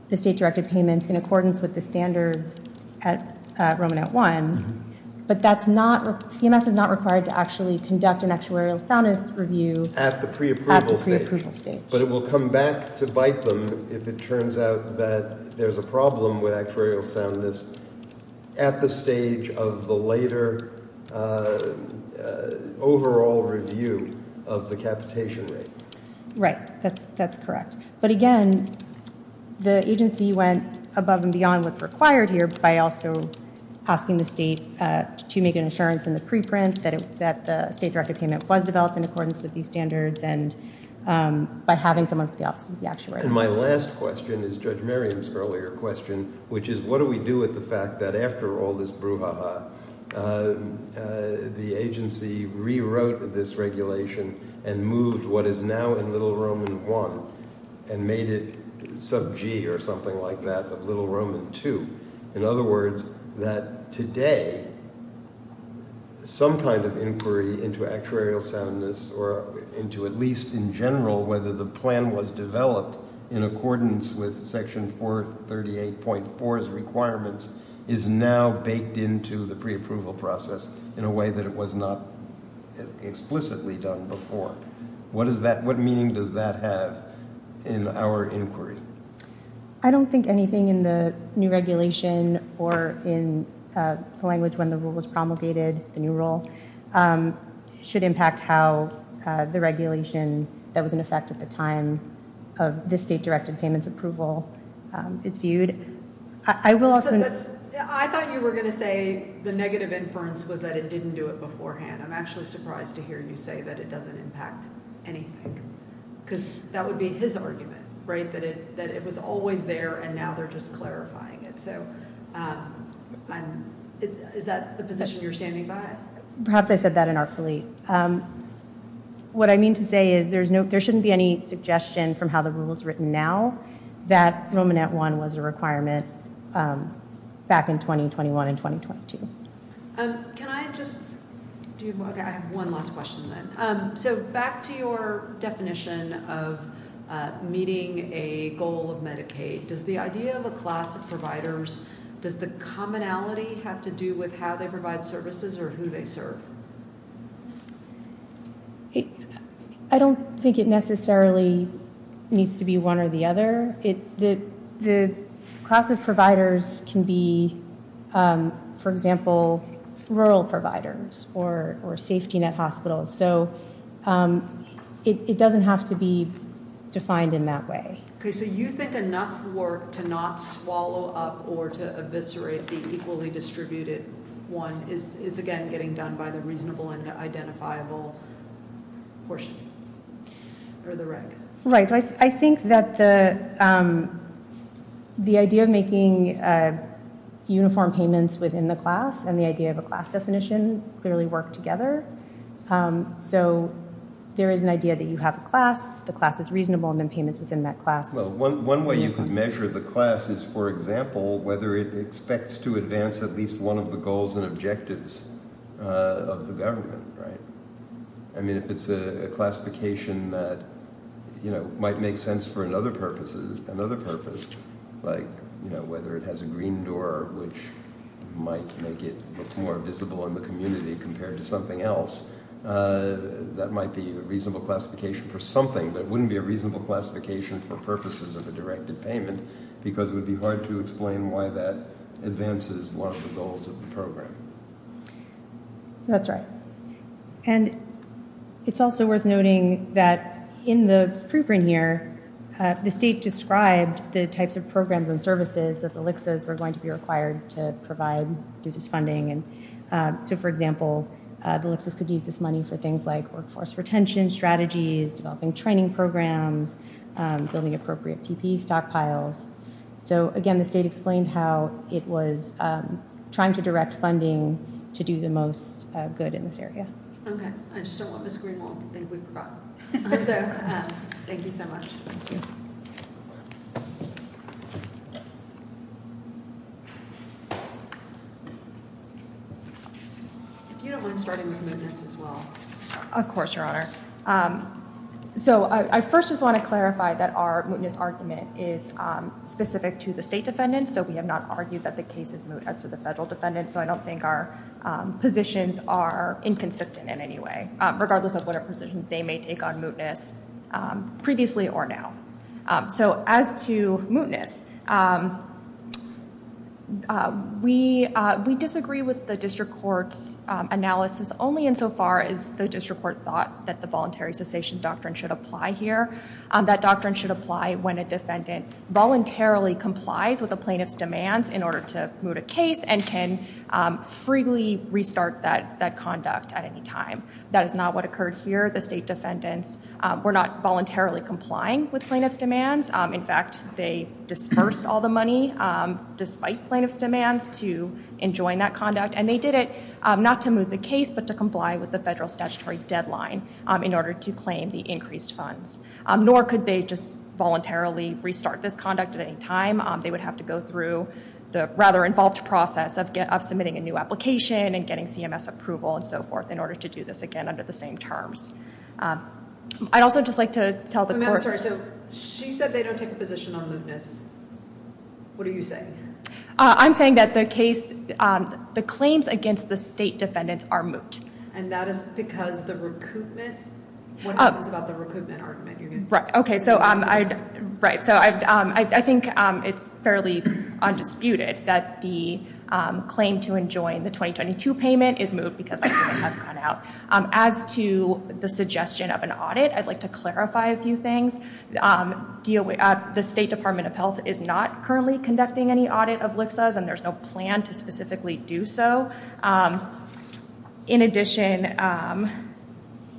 the state-directed payments in accordance with the standards at Romanette 1, but CMS is not required to actually conduct an actuarial soundness review at the preapproval stage. But it will come back to bite them if it turns out that there's a problem with actuarial soundness at the stage of the later overall review of the capitation rate. Right. That's correct. But, again, the agency went above and beyond what's required here by also asking the state to make an assurance in the preprint that the state-directed payment was developed in accordance with these standards and by having someone at the office of the actuary. And my last question is Judge Merriam's earlier question, which is what do we do with the fact that after all this brouhaha, the agency rewrote this regulation and moved what is now in Little Roman 1 and made it sub-G or something like that of Little Roman 2? In other words, that today some kind of inquiry into actuarial soundness or into at least in general whether the plan was developed in accordance with Section 438.4's requirements is now baked into the preapproval process in a way that it was not explicitly done before. What meaning does that have in our inquiry? I don't think anything in the new regulation or in the language when the rule was promulgated, the new rule, should impact how the regulation that was in effect at the time of the state-directed payments approval is viewed. I thought you were going to say the negative inference was that it didn't do it beforehand. I'm actually surprised to hear you say that it doesn't impact anything because that would be his argument, right, that it was always there and now they're just clarifying it. Is that the position you're standing by? Perhaps I said that inartfully. What I mean to say is there shouldn't be any suggestion from how the rule is written now that Roman 1 was a requirement back in 2021 and 2022. Can I just do one last question then? So back to your definition of meeting a goal of Medicaid, does the idea of a class of providers, does the commonality have to do with how they provide services or who they serve? I don't think it necessarily needs to be one or the other. The class of providers can be, for example, rural providers or safety net hospitals. So it doesn't have to be defined in that way. So you think enough work to not swallow up or to eviscerate the equally distributed one is, again, getting done by the reasonable and identifiable portion or the reg? Right. So I think that the idea of making uniform payments within the class and the idea of a class definition clearly work together. So there is an idea that you have a class, the class is reasonable, and then payments within that class. One way you can measure the class is, for example, whether it expects to advance at least one of the goals and objectives of the government. I mean, if it's a classification that might make sense for another purpose, like whether it has a green door, which might make it more visible in the community compared to something else, that might be a reasonable classification for something, but it wouldn't be a reasonable classification for purposes of a directed payment because it would be hard to explain why that advances one of the goals of the program. That's right. And it's also worth noting that in the preprint here, the state described the types of programs and services that the LHCSAs were going to be required to provide through this funding. And so, for example, the LHCSAs could use this money for things like workforce retention strategies, developing training programs, building appropriate TP stockpiles. So, again, the state explained how it was trying to direct funding to do the most good in this area. OK. I just don't want Ms. Greenwald to think we forgot. If you don't mind starting with mootness as well. Of course, Your Honor. So I first just want to clarify that our mootness argument is specific to the state defendants. So we have not argued that the case is moot as to the federal defendants. So I don't think our positions are inconsistent in any way, regardless of what a position they may take on mootness previously or now. So as to mootness, we disagree with the district court's analysis only insofar as the district court thought that the voluntary cessation doctrine should apply here. That doctrine should apply when a defendant voluntarily complies with a plaintiff's demands in order to moot a case and can freely restart that conduct at any time. That is not what occurred here. The state defendants were not voluntarily complying with plaintiff's demands. In fact, they dispersed all the money, despite plaintiff's demands, to enjoin that conduct. And they did it not to moot the case, but to comply with the federal statutory deadline in order to claim the increased funds. Nor could they just voluntarily restart this conduct at any time. They would have to go through the rather involved process of submitting a new application and getting CMS approval and so forth in order to do this again under the same terms. I'd also just like to tell the court... I'm sorry, so she said they don't take a position on mootness. What are you saying? I'm saying that the claims against the state defendants are moot. And that is because the recoupment? What happens about the recoupment argument? Right. So I think it's fairly undisputed that the claim to enjoin the 2022 payment is moot because they have gone out. As to the suggestion of an audit, I'd like to clarify a few things. The State Department of Health is not currently conducting any audit of LHCSAs, and there's no plan to specifically do so. In addition,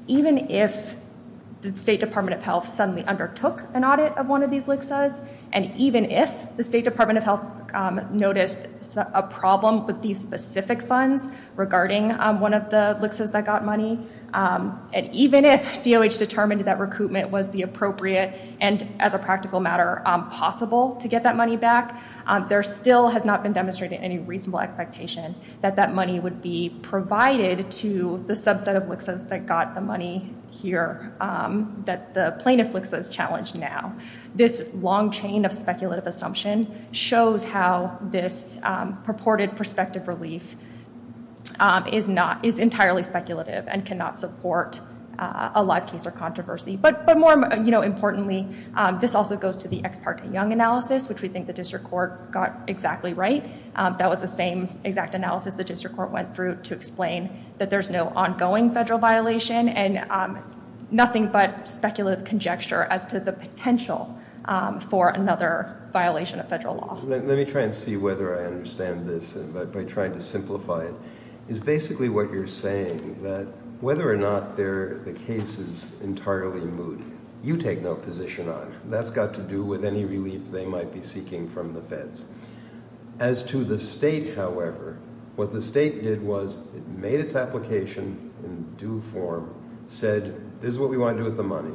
even if the State Department of Health suddenly undertook an audit of one of these LHCSAs, and even if the State Department of Health noticed a problem with these specific funds regarding one of the LHCSAs that got money, and even if DOH determined that recoupment was the appropriate and, as a practical matter, possible to get that money back, there still has not been demonstrated any reasonable expectation that that money would be provided to the subset of LHCSAs that got the money here that the plaintiff LHCSA has challenged now. This long chain of speculative assumption shows how this purported prospective relief is entirely speculative and cannot support a live case or controversy. But more importantly, this also goes to the ex parte Young analysis, which we think the District Court got exactly right. That was the same exact analysis the District Court went through to explain that there's no ongoing federal violation and nothing but speculative conjecture as to the potential for another violation of federal law. Let me try and see whether I understand this by trying to simplify it. It's basically what you're saying that whether or not the case is entirely moot, you take no position on it. That's got to do with any relief they might be seeking from the feds. As to the State, however, what the State did was it made its application in due form, said, this is what we want to do with the money,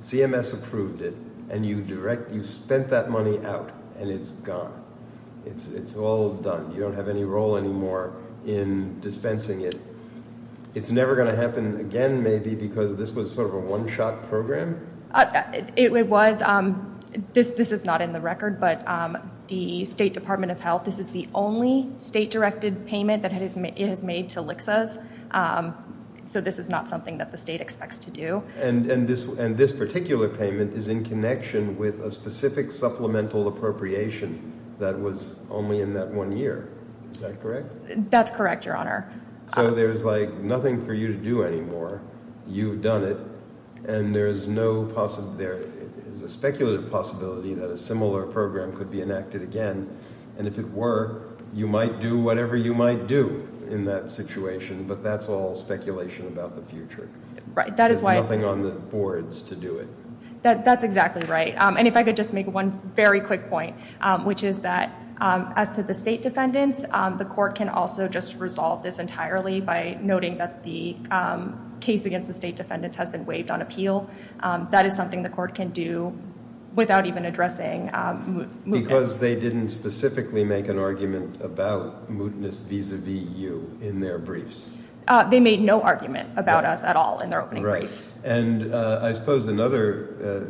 CMS approved it, and you spent that money out, and it's gone. It's all done. You don't have any role anymore in dispensing it. It's never going to happen again, maybe, because this was sort of a one-shot program? It was. This is not in the record, but the State Department of Health, this is the only State-directed payment that it has made to LHCSAs, so this is not something that the State expects to do. And this particular payment is in connection with a specific supplemental appropriation that was only in that one year. Is that correct? That's correct, Your Honor. So there's nothing for you to do anymore. You've done it, and there is no possibility, there is a speculative possibility that a similar program could be enacted again. And if it were, you might do whatever you might do in that situation, but that's all speculation about the future. There's nothing on the boards to do it. That's exactly right. And if I could just make one very quick point, which is that as to the State defendants, the Court can also just resolve this entirely by noting that the case against the State defendants has been waived on appeal. That is something the Court can do without even addressing mootness. Because they didn't specifically make an argument about mootness vis-a-vis you in their briefs. They made no argument about us at all in their opening brief. And I suppose another,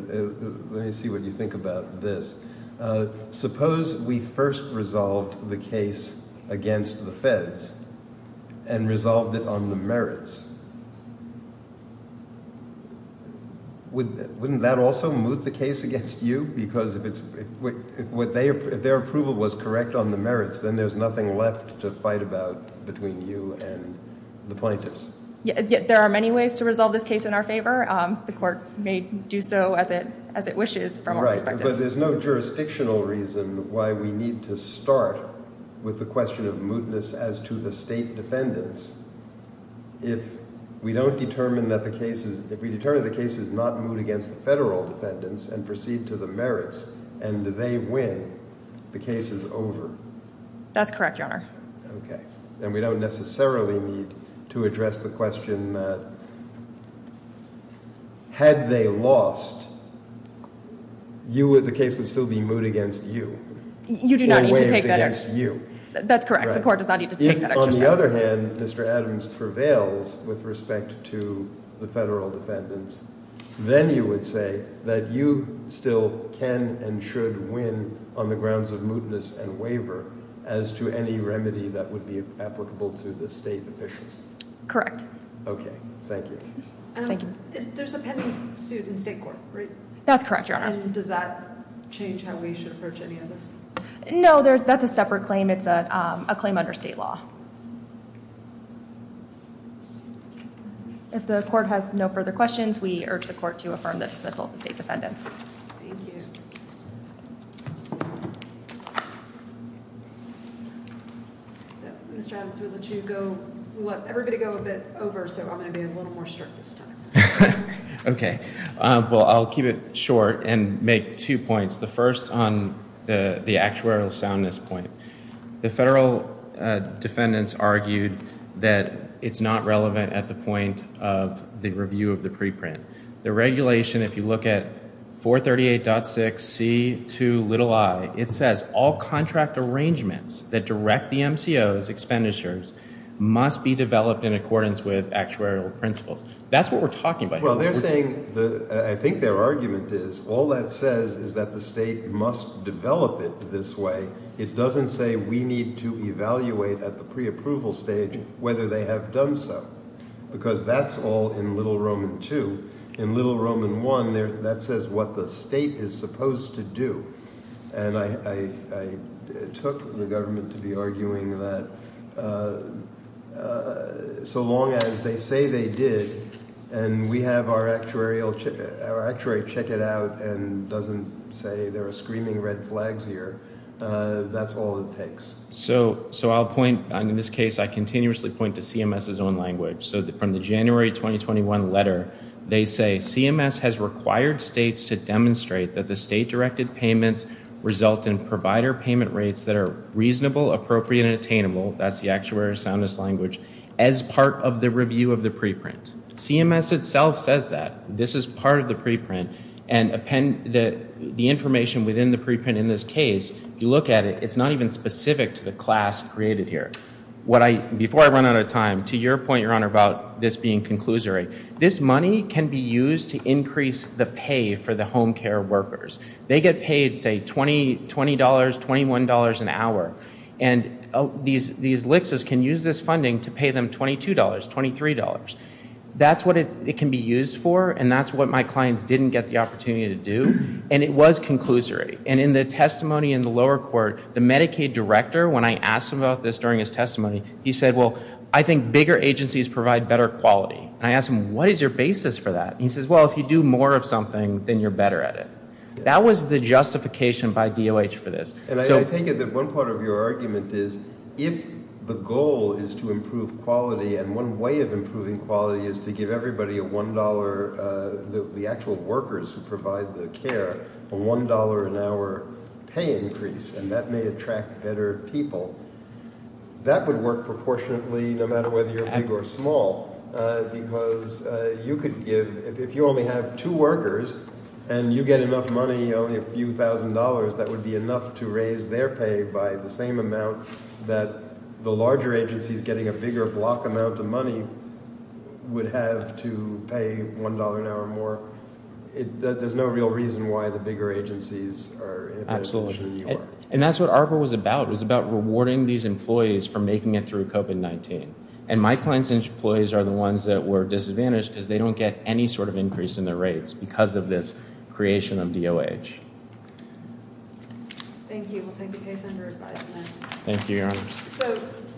let me see what you think about this. Suppose we first resolved the case against the feds and resolved it on the merits. Wouldn't that also moot the case against you? Because if their approval was correct on the merits, then there's nothing left to fight about between you and the plaintiffs. Yet there are many ways to resolve this case in our favor. The Court may do so as it wishes from our perspective. But there's no jurisdictional reason why we need to start with the question of mootness as to the State defendants. If we don't determine that the case is, if we determine the case is not moot against the federal defendants and proceed to the merits, and they win, the case is over. That's correct, Your Honor. Okay. And we don't necessarily need to address the question that had they lost, you would, the case would still be moot against you. You do not need to take that extra step. Or waived against you. That's correct. The Court does not need to take that extra step. If, on the other hand, Mr. Adams prevails with respect to the federal defendants, then you would say that you still can and should win on the grounds of mootness and waiver as to any remedy that would be applicable to the State officials. Correct. Okay. Thank you. There's a pending suit in State court, right? That's correct, Your Honor. And does that change how we should approach any of this? No, that's a separate claim. It's a claim under State law. If the Court has no further questions, we urge the Court to affirm the dismissal of the State defendants. Thank you. Mr. Adams, we'll let you go. We'll let everybody go a bit over, so I'm going to be a little more strict this time. Okay. Well, I'll keep it short and make two points. The first on the actuarial soundness point. The federal defendants argued that it's not relevant at the point of the review of the preprint. The regulation, if you look at 438.6C2i, it says all contract state must develop it this way. It doesn't say we need to evaluate at the preapproval stage whether they have done so. Because that's all in Little Roman II. In Little Roman I, that says what the state is supposed to do. And I took the government to be arguing that so long as they say they did and we have our actuary check it out and doesn't say there are screaming red flags here, that's all it takes. So I'll point, in this case, I continuously point to CMS's own language. From the January 2021 letter, they say CMS has required states to demonstrate that the state-directed payments result in provider payment rates that are reasonable, appropriate and attainable, that's the actuary soundness language, as part of the review of the preprint. CMS itself says that. This is part of the preprint. And the information within the preprint in this case, if you look at it, it's not even specific to the class created here. Before I run out of time, to your point, Your Honor, about this being conclusory, this money can be used to increase the pay for the home care workers. They get paid say $20, $21 an hour. And these LICs can use this funding to pay them $22, $23. That's what it can be used for and that's what my clients didn't get the opportunity to do. And it was conclusory. And in the testimony in the lower court, the Medicaid director, when I asked him about this during his testimony, he said, well, I think bigger agencies provide better quality. And I asked him, what is your basis for that? He says, well, if you do more of something, then you're better at it. That was the justification by DOH for this. And I take it that one part of your argument is if the goal is to improve quality and one way of improving quality is to give everybody a $1, the actual people, that would work proportionately no matter whether you're big or small. Because you could give, if you only have two workers and you get enough money, only a few thousand dollars, that would be enough to raise their pay by the same amount that the larger agencies getting a bigger block amount of money would have to pay $1 an hour more. There's no real reason why the bigger agencies are in a better position than you are. Absolutely. And that's what ARPA was about. It was about rewarding these employees for making it through COVID-19. And my clients' employees are the ones that were disadvantaged because they don't get any sort of increase in their rates because of this creation of DOH. Thank you. We'll take the case under advisement. Thank you, Your Honor.